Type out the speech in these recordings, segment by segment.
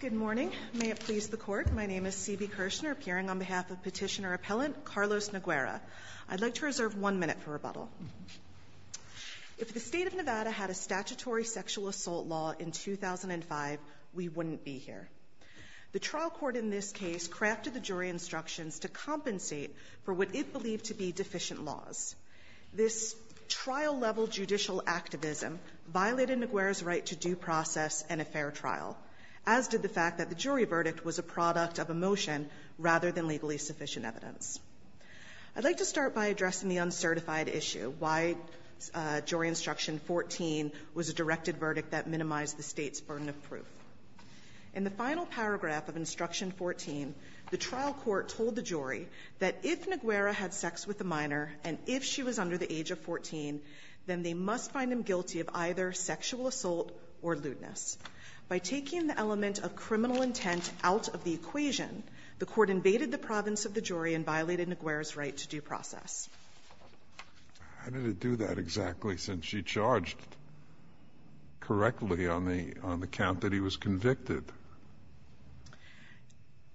Good morning, may it please the Court. My name is C.B. Kirshner, appearing on behalf of Petitioner Appellant Carlos Noguera. I'd like to reserve one minute for rebuttal. If the State of Nevada had a statutory sexual assault law in 2005, we wouldn't be here. The trial court in this case crafted the jury instructions to compensate for what it believed to be deficient laws. This trial-level judicial activism violated Noguera's right to due process and a fair trial, as did the fact that the jury verdict was a product of a motion rather than legally sufficient evidence. I'd like to start by addressing the uncertified issue, why Jury Instruction 14 was a directed verdict that minimized the State's burden of proof. In the final paragraph of Instruction 14, the trial court told the jury that if Noguera had sex with a minor, and if she was under the age of 14, then they must find him guilty of either sexual assault or lewdness. By taking the element of criminal intent out of the equation, the Court invaded the province of the jury and violated Noguera's right to due process. How did it do that exactly, since she charged correctly on the account that he was convicted?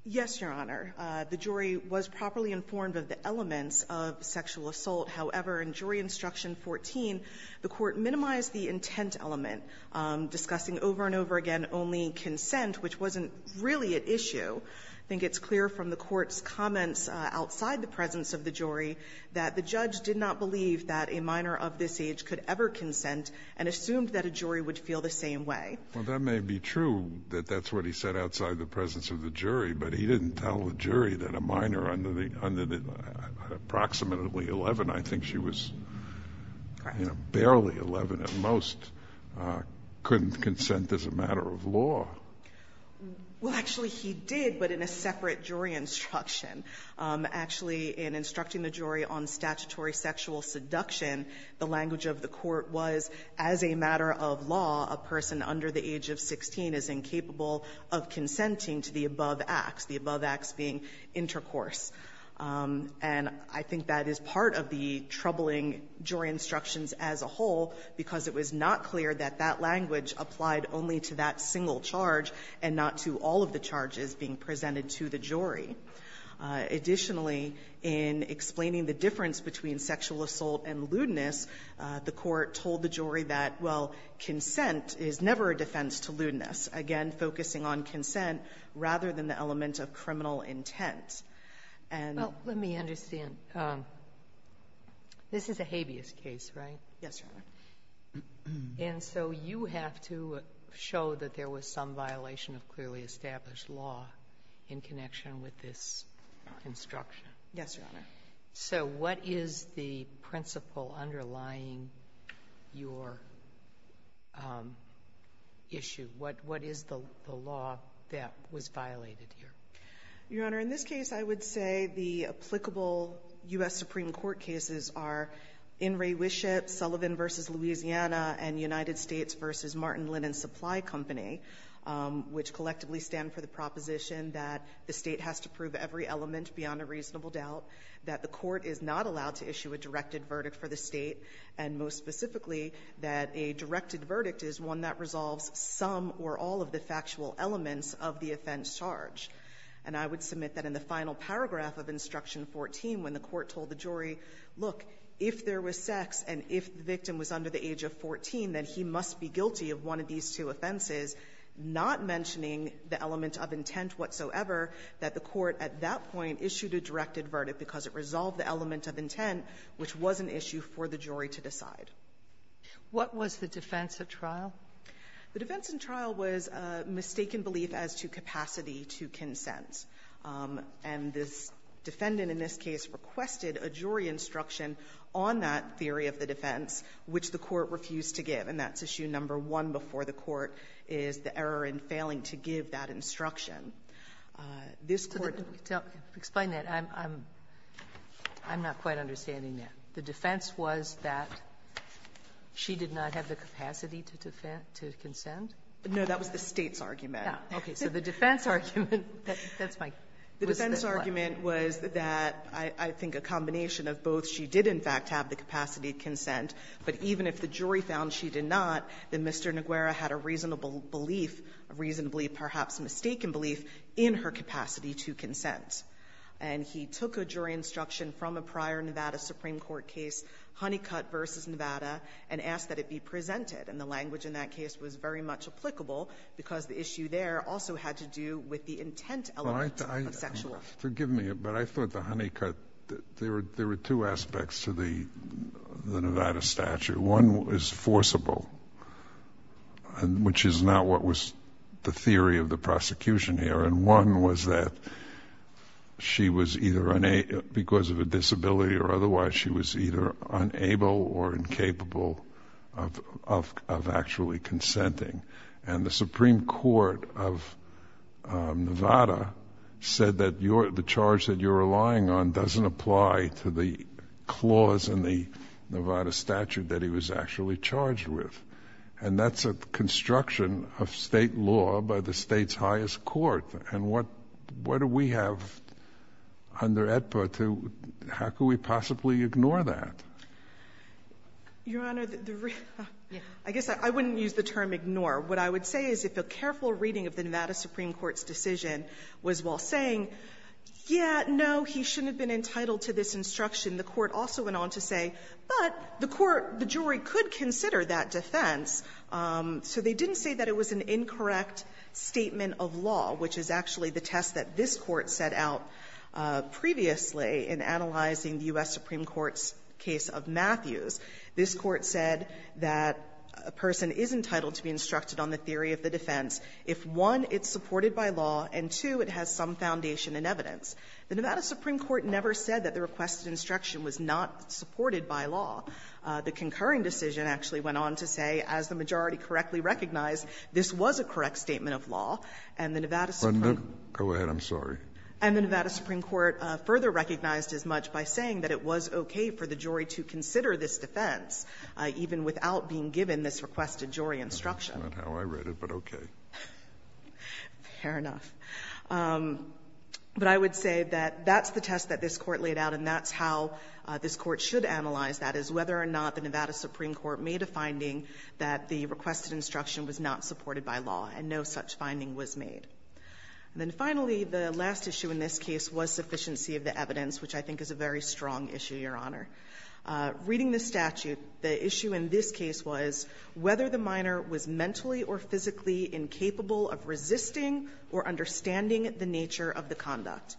Yes, Your Honor. The jury was properly informed of the elements of sexual assault. However, in Jury Instruction 14, the Court minimized the intent element, discussing over and over again only consent, which wasn't really at issue. I think it's clear from the Court's comments outside the presence of the jury that the judge did not believe that a minor of this age could ever consent and assumed that a jury would feel the same way. Well, that may be true, that that's what he said outside the presence of the jury, but he didn't tell the jury that a minor under the approximately 11, I think she was, you know, barely 11 at most, couldn't consent as a matter of law. Well, actually, he did, but in a separate jury instruction. Actually, in Instructing the Jury on Statutory Sexual Seduction, the language of the Court was, as a matter of law, a person under the age of 16 is incapable of consenting to the above acts, the above acts being intercourse. And I think that is part of the troubling jury instructions as a whole, because it was not clear that that language applied only to that single charge and not to all of the charges being presented to the jury. Additionally, in explaining the difference between sexual assault and lewdness, the Court told the jury that, well, consent is never a defense to lewdness. Again, focusing on consent rather than the element of criminal intent. And — Well, let me understand. This is a habeas case, right? Yes, Your Honor. And so you have to show that there was some violation of clearly established law in connection with this construction. Yes, Your Honor. So what is the principle underlying your issue? What is the law that was violated here? Your Honor, in this case, I would say the applicable U.S. Supreme Court cases are In re Wiship, Sullivan v. Louisiana, and United States v. Martin Linen Supply Company, which collectively stand for the proposition that the State has to prove every element beyond a reasonable doubt, that the Court is not allowed to issue a directed verdict for the State, and most specifically that a directed verdict is one that resolves some or all of the factual elements of the offense charge. And I would submit that in the final paragraph of Instruction 14, when the Court told the jury, look, if there was sex and if the victim was under the age of 14, then he must be guilty of one of these two offenses, not mentioning the element of intent whatsoever, that the Court at that point issued a directed verdict because it resolved the element of intent, which was an issue for the jury to decide. Sotomayor, what was the defense of trial? The defense in trial was a mistaken belief as to capacity to consent. And this defendant in this case requested a jury instruction on that theory of the defense, which the Court refused to give. And that's issue number one before the Court is the error in failing to give that instruction. This Court to explain that. I'm not quite understanding that. The defense was that she did not have the capacity to consent? No, that was the State's argument. Okay. So the defense argument, that's my question. The defense argument was that I think a combination of both. She did, in fact, have the capacity to consent. But even if the jury found she did not, then Mr. Naguera had a reasonable belief, a reasonably perhaps mistaken belief, in her capacity to consent. And he took a jury instruction from a prior Nevada Supreme Court case, Honeycutt v. Nevada, and asked that it be presented. And the language in that case was very much applicable, because the issue there also had to do with the intent element of sexual. Forgive me, but I thought the Honeycutt, there were two aspects to the Nevada statute. One is forcible, which is not what was the theory of the prosecution here. And one was that she was either because of a disability or otherwise, she was either unable or incapable of actually consenting. And the Supreme Court of Nevada said that the charge that you're relying on doesn't apply to the clause in the Nevada statute that he was actually charged with. And that's a construction of State law by the State's highest court. And what do we have under EDPA to how could we possibly ignore that? Your Honor, the real ---- I guess I wouldn't use the term ignore. What I would say is if a careful reading of the Nevada Supreme Court's decision was while saying, yeah, no, he shouldn't have been entitled to this instruction, the Court also went on to say, but the court, the jury could consider that defense. So they didn't say that it was an incorrect statement of law, which is actually the test that this Court set out previously in analyzing the U.S. Supreme Court's case of Matthews. This Court said that a person is entitled to be instructed on the theory of the defense if, one, it's supported by law, and, two, it has some foundation and evidence. The Nevada Supreme Court never said that the requested instruction was not supported by law. The concurring decision actually went on to say, as the majority correctly recognized, this was a correct statement of law, and the Nevada Supreme Court ---- Kennedy, I'm sorry. And the Nevada Supreme Court further recognized as much by saying that it was okay for the jury to consider this defense, even without being given this requested jury instruction. That's not how I read it, but okay. Fair enough. But I would say that that's the test that this Court laid out, and that's how this Court should analyze that, is whether or not the Nevada Supreme Court made a finding that the requested instruction was not supported by law, and no such finding was made. And then finally, the last issue in this case was sufficiency of the evidence, which I think is a very strong issue, Your Honor. Reading the statute, the issue in this case was whether the minor was mentally or physically incapable of resisting or understanding the nature of the conduct.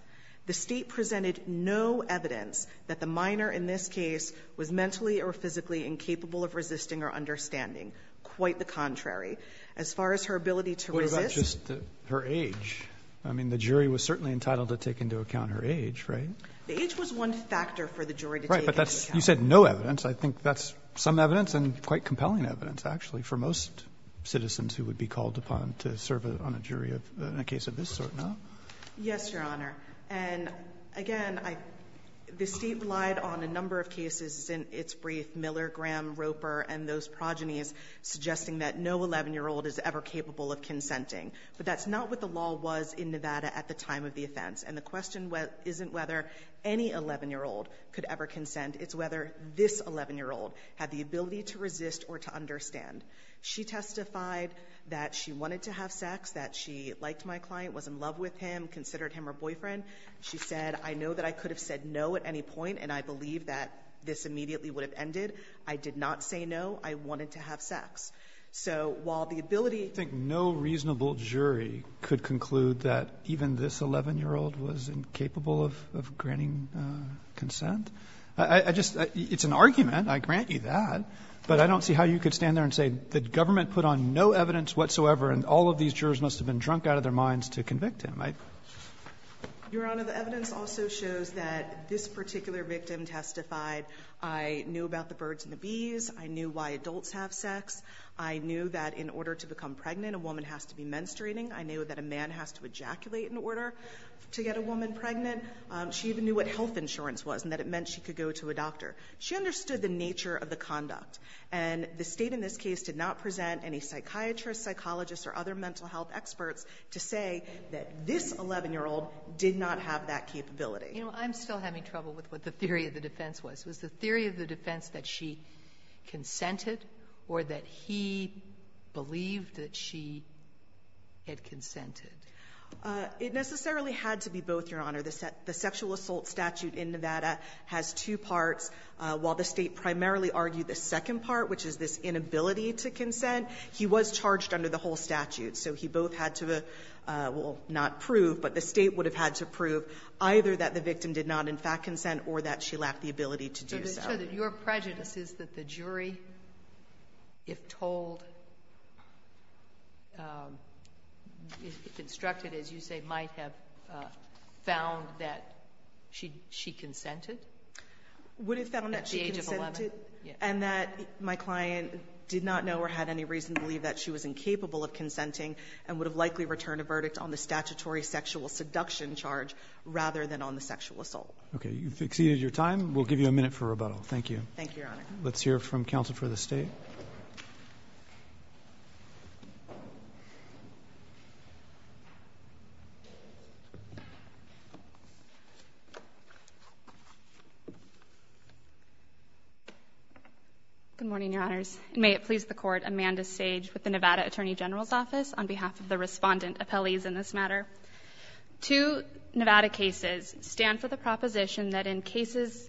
The State presented no evidence that the minor in this case was mentally or physically incapable of resisting or understanding. Quite the contrary. As far as her ability to resist ---- Roberts, just her age. I mean, the jury was certainly entitled to take into account her age, right? The age was one factor for the jury to take into account. Right. But that's you said no evidence. I think that's some evidence and quite compelling evidence, actually, for most citizens who would be called upon to serve on a jury in a case of this sort, no? Yes, Your Honor. And again, I ---- the State relied on a number of cases in its brief, Miller, Graham, Roper, and those progenies, suggesting that no 11-year-old is ever capable of consenting. But that's not what the law was in Nevada at the time of the offense. And the question isn't whether any 11-year-old could ever consent. It's whether this 11-year-old had the ability to resist or to understand. She testified that she wanted to have sex, that she liked my client, was in love with him, considered him her boyfriend. She said, I know that I could have said no at any point, and I believe that this immediately would have ended. I did not say no. I wanted to have sex. So while the ability ---- I think no reasonable jury could conclude that even this 11-year-old was incapable of granting consent. I just ---- it's an argument. I grant you that. But I don't see how you could stand there and say the government put on no evidence whatsoever, and all of these jurors must have been drunk out of their minds to convict I ---- O'Connell. Your Honor, the evidence also shows that this particular victim testified, I knew about the birds and the bees, I knew why adults have sex, I knew that in order to become pregnant, a woman has to be menstruating, I knew that a man has to ejaculate in order to get a woman pregnant. She even knew what health insurance was and that it meant she could go to a doctor. She understood the nature of the conduct. And the State in this case did not present any psychiatrists, psychologists, or other mental health experts to say that this 11-year-old did not have that capability. You know, I'm still having trouble with what the theory of the defense was. Was the theory of the defense that she consented or that he believed that she had consented? It necessarily had to be both, Your Honor. The sexual assault statute in Nevada has two parts. While the State primarily argued the second part, which is this inability to consent, he was charged under the whole statute. So he both had to have, well, not prove, but the State would have had to prove either that the victim did not, in fact, consent or that she lacked the ability to do so. So your prejudice is that the jury, if told, if instructed, as you say, might have found that she consented? Would have found that she consented and that my client did not know or had any reason to believe that she was incapable of consenting and would have likely returned a verdict on the statutory sexual seduction charge rather than on the sexual assault. Okay. You've exceeded your time. We'll give you a minute for rebuttal. Thank you. Thank you, Your Honor. Let's hear from counsel for the State. Good morning, Your Honors. May it please the Court, Amanda Sage with the Nevada Attorney General's Office on behalf of the respondent appellees in this matter. Two Nevada cases stand for the proposition that in cases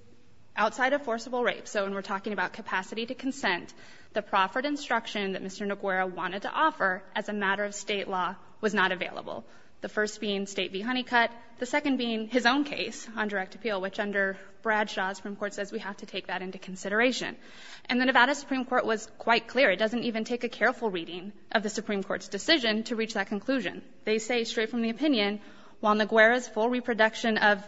outside of forcible rape, so when we're talking about capacity to consent, the proffered instruction that Mr. Naguera wanted to offer as a matter of State law was not available, the first being State v. Honeycutt, the second being his own case on direct appeal, which under Bradshaw's Supreme Court says we have to take that into consideration. And the Nevada Supreme Court was quite clear, it doesn't even take a careful reading of the Supreme Court's decision to reach that conclusion. They say straight from the opinion, while Naguera's full reproduction of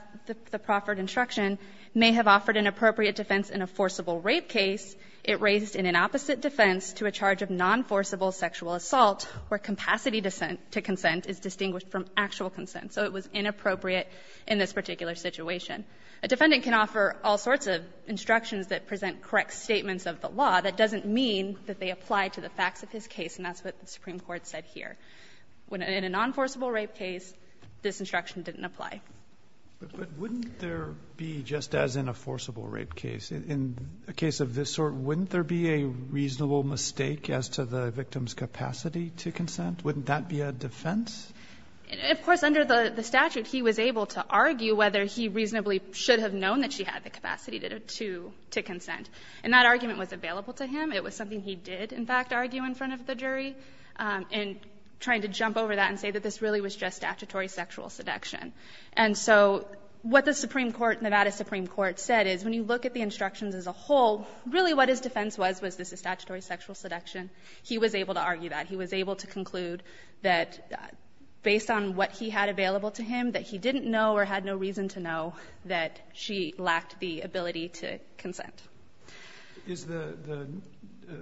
the proffered instruction may have offered an appropriate defense in a forcible rape case, it raised an inopposite defense to a charge of non-forcible sexual assault where capacity to consent is distinguished from actual consent. So it was inappropriate in this particular situation. A defendant can offer all sorts of instructions that present correct statements of the law. That doesn't mean that they apply to the facts of his case, and that's what the Supreme Court said here. In a non-forcible rape case, this instruction didn't apply. But wouldn't there be, just as in a forcible rape case, in a case of this sort, wouldn't there be a reasonable mistake as to the victim's capacity to consent? Wouldn't that be a defense? Of course, under the statute, he was able to argue whether he reasonably should have known that she had the capacity to consent. And that argument was available to him. And trying to jump over that and say that this really was just statutory sexual seduction. And so what the Supreme Court, Nevada Supreme Court, said is when you look at the instructions as a whole, really what his defense was, was this a statutory sexual seduction. He was able to argue that. He was able to conclude that based on what he had available to him, that he didn't know or had no reason to know that she lacked the ability to consent. Roberts. Is the the,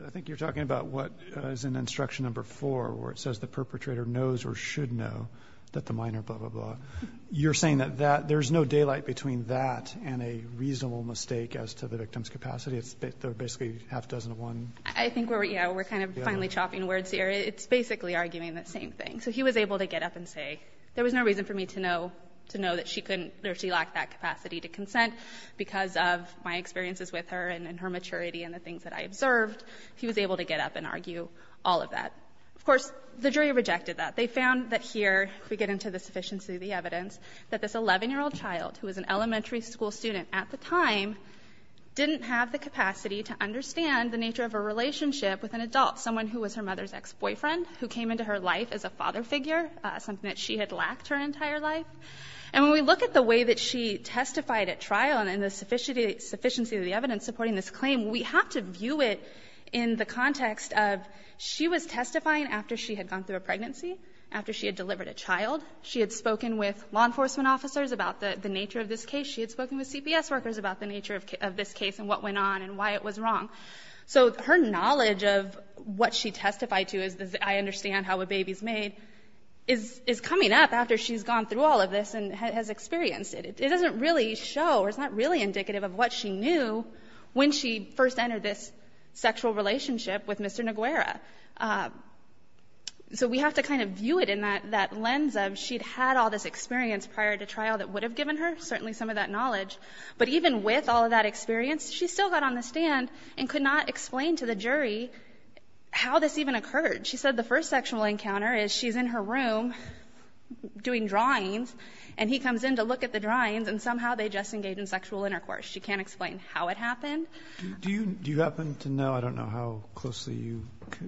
I think you're talking about what is in instruction number 4, where it says the perpetrator knows or should know that the minor blah, blah, blah. You're saying that that, there's no daylight between that and a reasonable mistake as to the victim's capacity. It's basically half-dozen to one. I think we're, yeah, we're kind of finally chopping words here. It's basically arguing the same thing. So he was able to get up and say, there was no reason for me to know, to know that she couldn't, or she lacked that capacity to consent because of my experiences with her and her maturity and the things that I observed. He was able to get up and argue all of that. Of course, the jury rejected that. They found that here, we get into the sufficiency of the evidence, that this 11-year-old child, who was an elementary school student at the time, didn't have the capacity to understand the nature of a relationship with an adult, someone who was her mother's ex-boyfriend, who came into her life as a father figure, something that she had lacked her entire life. And when we look at the way that she testified at trial and the sufficiency of the evidence supporting this claim, we have to view it in the context of she was testifying after she had gone through a pregnancy, after she had delivered a child. She had spoken with law enforcement officers about the nature of this case. She had spoken with CPS workers about the nature of this case and what went on and why it was wrong. So her knowledge of what she testified to is, I understand how a baby's made, is coming up after she's gone through all of this and has experienced it. It doesn't really show, or it's not really indicative of what she knew when she first entered this sexual relationship with Mr. Neguera. So we have to kind of view it in that lens of she'd had all this experience prior to trial that would have given her certainly some of that knowledge, but even with all of that experience, she still got on the stand and could not explain to the jury how this even occurred. She said the first sexual encounter is she's in her room doing drawings, and he comes in to look at the drawings, and somehow they just engage in sexual intercourse. She can't explain how it happened. Do you happen to know, I don't know how closely you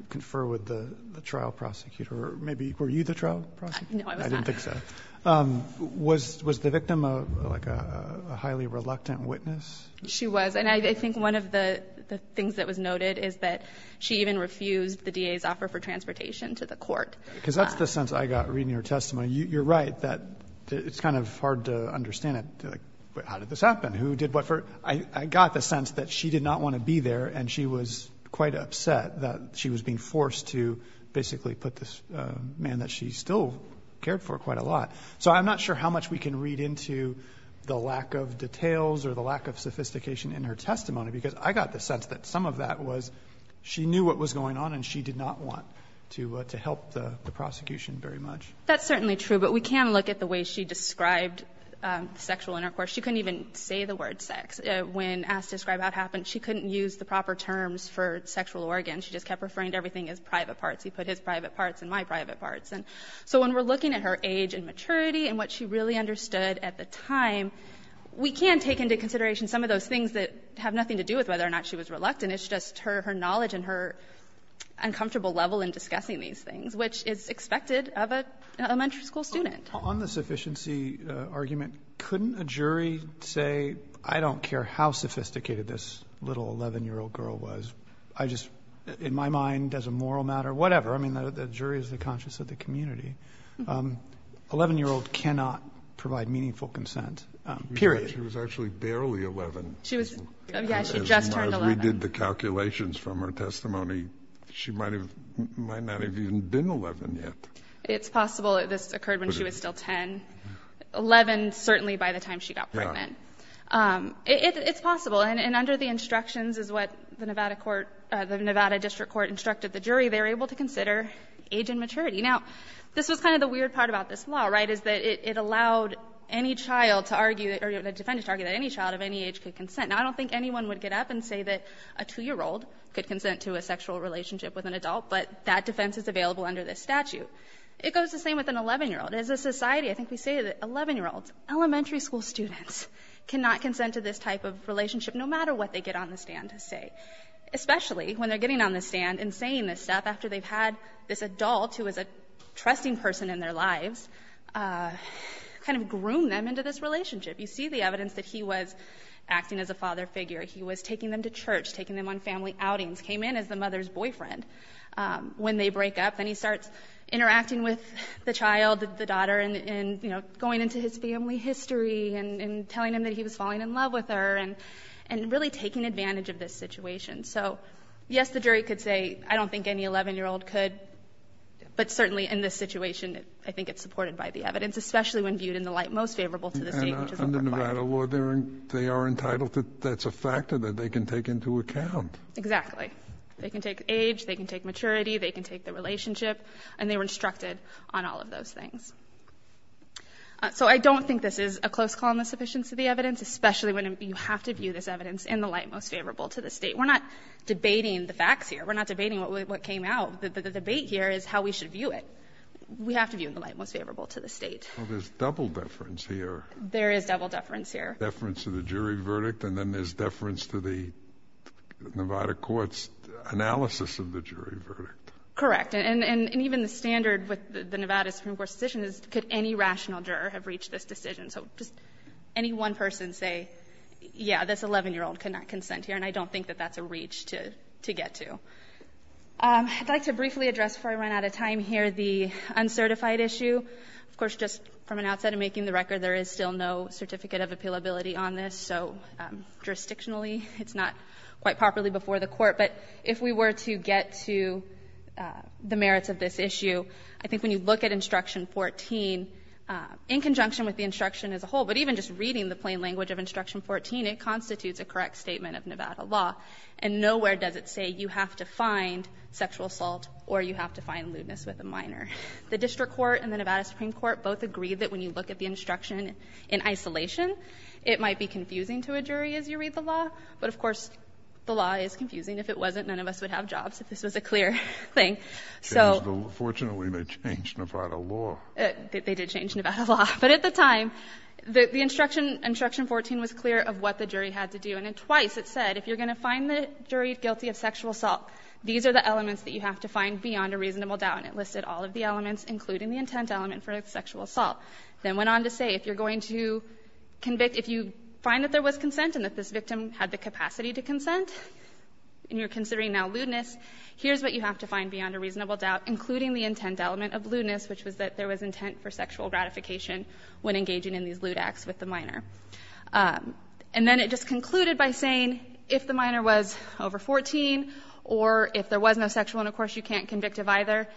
confer with the trial prosecutor, or maybe were you the trial prosecutor? No, I was not. I didn't think so. Was the victim, like, a highly reluctant witness? She was. And I think one of the things that was noted is that she even refused the DA's offer for transportation to the court. Because that's the sense I got reading her testimony. You're right that it's kind of hard to understand it. Like, how did this happen? Who did what for? I got the sense that she did not want to be there, and she was quite upset that she was being forced to basically put this man that she still cared for quite a lot. So I'm not sure how much we can read into the lack of details or the lack of sophistication in her testimony, because I got the sense that some of that was she knew what was going on, and she did not want to help the prosecution very much. That's certainly true. But we can look at the way she described sexual intercourse. She couldn't even say the word sex. When Ask, Describe, Out happened, she couldn't use the proper terms for sexual organ. She just kept referring to everything as private parts. He put his private parts and my private parts. And so when we're looking at her age and maturity and what she really understood at the time, we can take into consideration some of those things that have nothing to do with whether or not she was reluctant. And it's just her knowledge and her uncomfortable level in discussing these things, which is expected of an elementary school student. Robertson On the sufficiency argument, couldn't a jury say, I don't care how sophisticated this little 11-year-old girl was, I just, in my mind, as a moral matter, whatever, I mean, the jury is the conscience of the community, 11-year-old cannot provide meaningful consent, period. Kennedy She was actually barely 11. She was, yeah, she just turned 11. Kennedy As we did the calculations from her testimony, she might have, might not have even been 11 yet. It's possible this occurred when she was still 10, 11 certainly by the time she got pregnant. It's possible. And under the instructions is what the Nevada court, the Nevada district court instructed the jury. They were able to consider age and maturity. Now, this was kind of the weird part about this law, right, is that it allowed any child to argue, or the defendants argued that any child of any age could consider consent. Now, I don't think anyone would get up and say that a 2-year-old could consent to a sexual relationship with an adult, but that defense is available under this statute. It goes the same with an 11-year-old. As a society, I think we say that 11-year-olds, elementary school students, cannot consent to this type of relationship, no matter what they get on the stand to say, especially when they're getting on the stand and saying this stuff after they've had this adult who is a trusting person in their lives kind of groom them into this relationship. You see the evidence that he was acting as a father figure. He was taking them to church, taking them on family outings, came in as the mother's boyfriend when they break up. Then he starts interacting with the child, the daughter, and, you know, going into his family history and telling him that he was falling in love with her, and really taking advantage of this situation. So, yes, the jury could say, I don't think any 11-year-old could, but certainly in this situation, I think it's supported by the evidence, especially when viewed in the light most favorable to the State, which is what we're providing. And under Nevada law, they are entitled to — that's a factor that they can take into account. Exactly. They can take age, they can take maturity, they can take the relationship, and they were instructed on all of those things. So I don't think this is a close call on the sufficiency of the evidence, especially when you have to view this evidence in the light most favorable to the State. We're not debating the facts here. We're not debating what came out. The debate here is how we should view it. We have to view it in the light most favorable to the State. Well, there's double deference here. There is double deference here. Deference to the jury verdict, and then there's deference to the Nevada court's analysis of the jury verdict. Correct. And even the standard with the Nevada Supreme Court's decision is could any rational juror have reached this decision? So just any one person say, yeah, this 11-year-old could not consent here, and I don't think that that's a reach to get to. I'd like to briefly address, before I run out of time here, the uncertified issue. Of course, just from an outset of making the record, there is still no certificate of appealability on this, so jurisdictionally, it's not quite properly before the Court. But if we were to get to the merits of this issue, I think when you look at Instruction 14, in conjunction with the instruction as a whole, but even just reading the plain language of Instruction 14, it constitutes a correct statement of Nevada law, and nowhere does it say you have to find sexual assault or you have to find lewdness with a minor. The district court and the Nevada Supreme Court both agreed that when you look at the instruction in isolation, it might be confusing to a jury as you read the law, but of course, the law is confusing. If it wasn't, none of us would have jobs, if this was a clear thing. So the law, fortunately, they changed Nevada law. They did change Nevada law. But at the time, the instruction, Instruction 14, was clear of what the jury had to do, and twice it said if you're going to find the jury guilty of sexual assault, these are the elements that you have to find beyond a reasonable doubt. And it listed all of the elements, including the intent element for sexual assault. Then went on to say if you're going to convict, if you find that there was consent and that this victim had the capacity to consent, and you're considering now lewdness, here's what you have to find beyond a reasonable doubt, including the intent element of lewdness, which was that there was intent for sexual gratification when engaging in these lewd acts with the minor. And then it just concluded by saying if the minor was over 14 or if there was no sexual And, of course, you can't convict of either.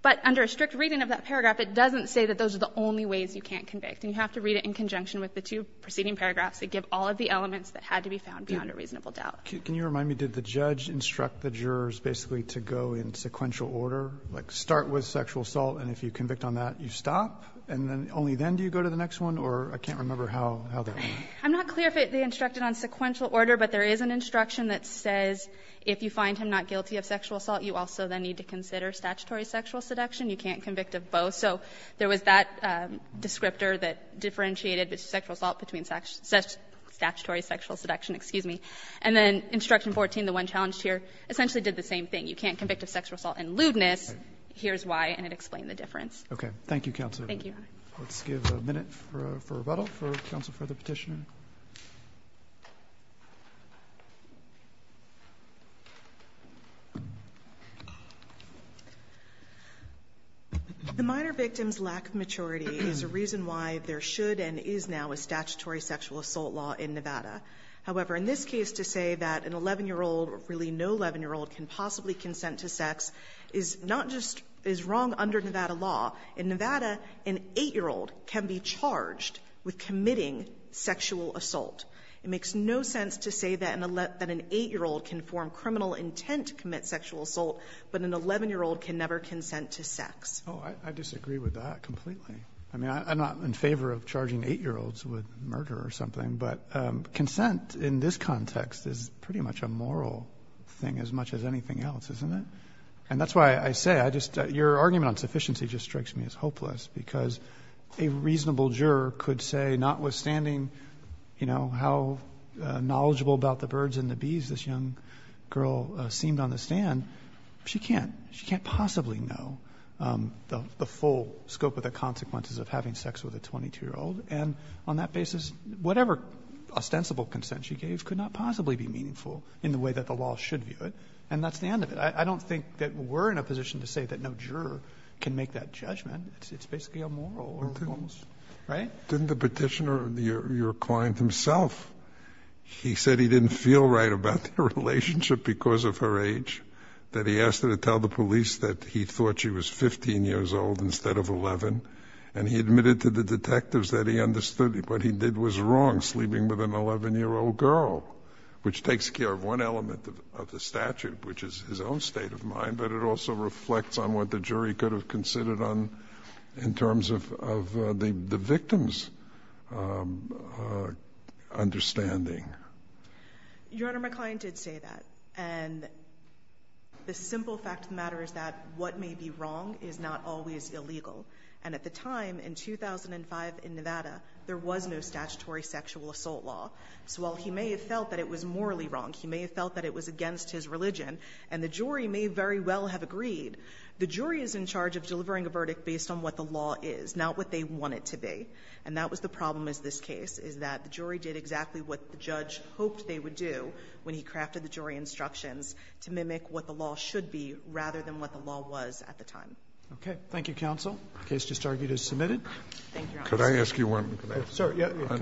But under a strict reading of that paragraph, it doesn't say that those are the only ways you can't convict. And you have to read it in conjunction with the two preceding paragraphs that give all of the elements that had to be found beyond a reasonable doubt. Roberts. Can you remind me, did the judge instruct the jurors basically to go in sequential order, like start with sexual assault, and if you convict on that, you stop? And then only then do you go to the next one, or I can't remember how that went. I'm not clear if they instructed on sequential order, but there is an instruction that says if you find him not guilty of sexual assault, you also then need to consider statutory sexual seduction. You can't convict of both. So there was that descriptor that differentiated sexual assault between statutory sexual seduction, excuse me. And then Instruction 14, the one challenged here, essentially did the same thing. You can't convict of sexual assault and lewdness. Here's why, and it explained the difference. Roberts. Thank you, counsel. Let's give a minute for rebuttal for counsel for the Petitioner. The minor victim's lack of maturity is a reason why there should and is now a statutory sexual assault law in Nevada. However, in this case to say that an 11-year-old, really no 11-year-old, can possibly consent to sex is not just as wrong under Nevada law. In Nevada, an 8-year-old can be charged with committing sexual assault. It makes no sense to say that an 8-year-old can form criminal intent to commit sexual assault, but an 11-year-old can never consent to sex. Oh, I disagree with that completely. I mean, I'm not in favor of charging 8-year-olds with murder or something, but consent in this context is pretty much a moral thing as much as anything else, isn't it? And that's why I say, I just — your argument on sufficiency just strikes me as hopeless, because a reasonable juror could say, notwithstanding, you know, how knowledgeable about the birds and the bees this young girl seemed on the stand, she can't. She can't possibly know the full scope of the consequences of having sex with a 22-year-old. And on that basis, whatever ostensible consent she gave could not possibly be meaningful in the way that the law should view it. And that's the end of it. I don't think that we're in a position to say that no juror can make that judgment. It's basically immoral, right? Scalia, didn't the Petitioner, your client himself, he said he didn't feel right about the relationship because of her age, that he asked her to tell the police that he thought she was 15 years old instead of 11, and he admitted to the detectives that he understood what he did was wrong, sleeping with an 11-year-old girl, which takes care of one element of the statute, which is his own state of mind, but it also reflects on what the jury could have considered on, in terms of the victim's understanding. Your Honor, my client did say that. And the simple fact of the matter is that what may be wrong is not always illegal. And at the time, in 2005 in Nevada, there was no statutory sexual assault law. So while he may have felt that it was morally wrong, he may have felt that it was against his religion, and the jury may very well have agreed, the jury is in charge of delivering a verdict based on what the law is, not what they want it to be. And that was the problem with this case, is that the jury did exactly what the judge hoped they would do when he crafted the jury instructions to mimic what the law should be rather than what the law was at the time. Roberts. Thank you, counsel. The case just argued as submitted. Can I ask you one?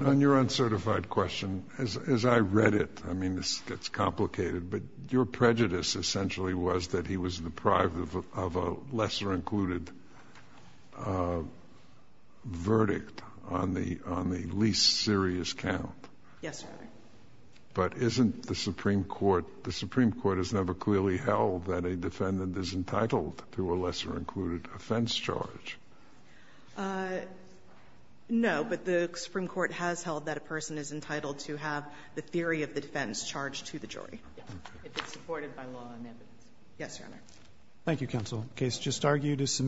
On your uncertified question, as I read it, I mean, this gets complicated, but your prejudice essentially was that he was deprived of a lesser-included verdict on the least serious count. Yes, Your Honor. But isn't the Supreme Court, the Supreme Court has never clearly held that a defendant is entitled to a lesser-included offense charge. No, but the Supreme Court has held that a person is entitled to have the theory of the defense charged to the jury. Yes, if it's supported by law and evidence. Yes, Your Honor. Thank you, counsel. The case just argued as submitted.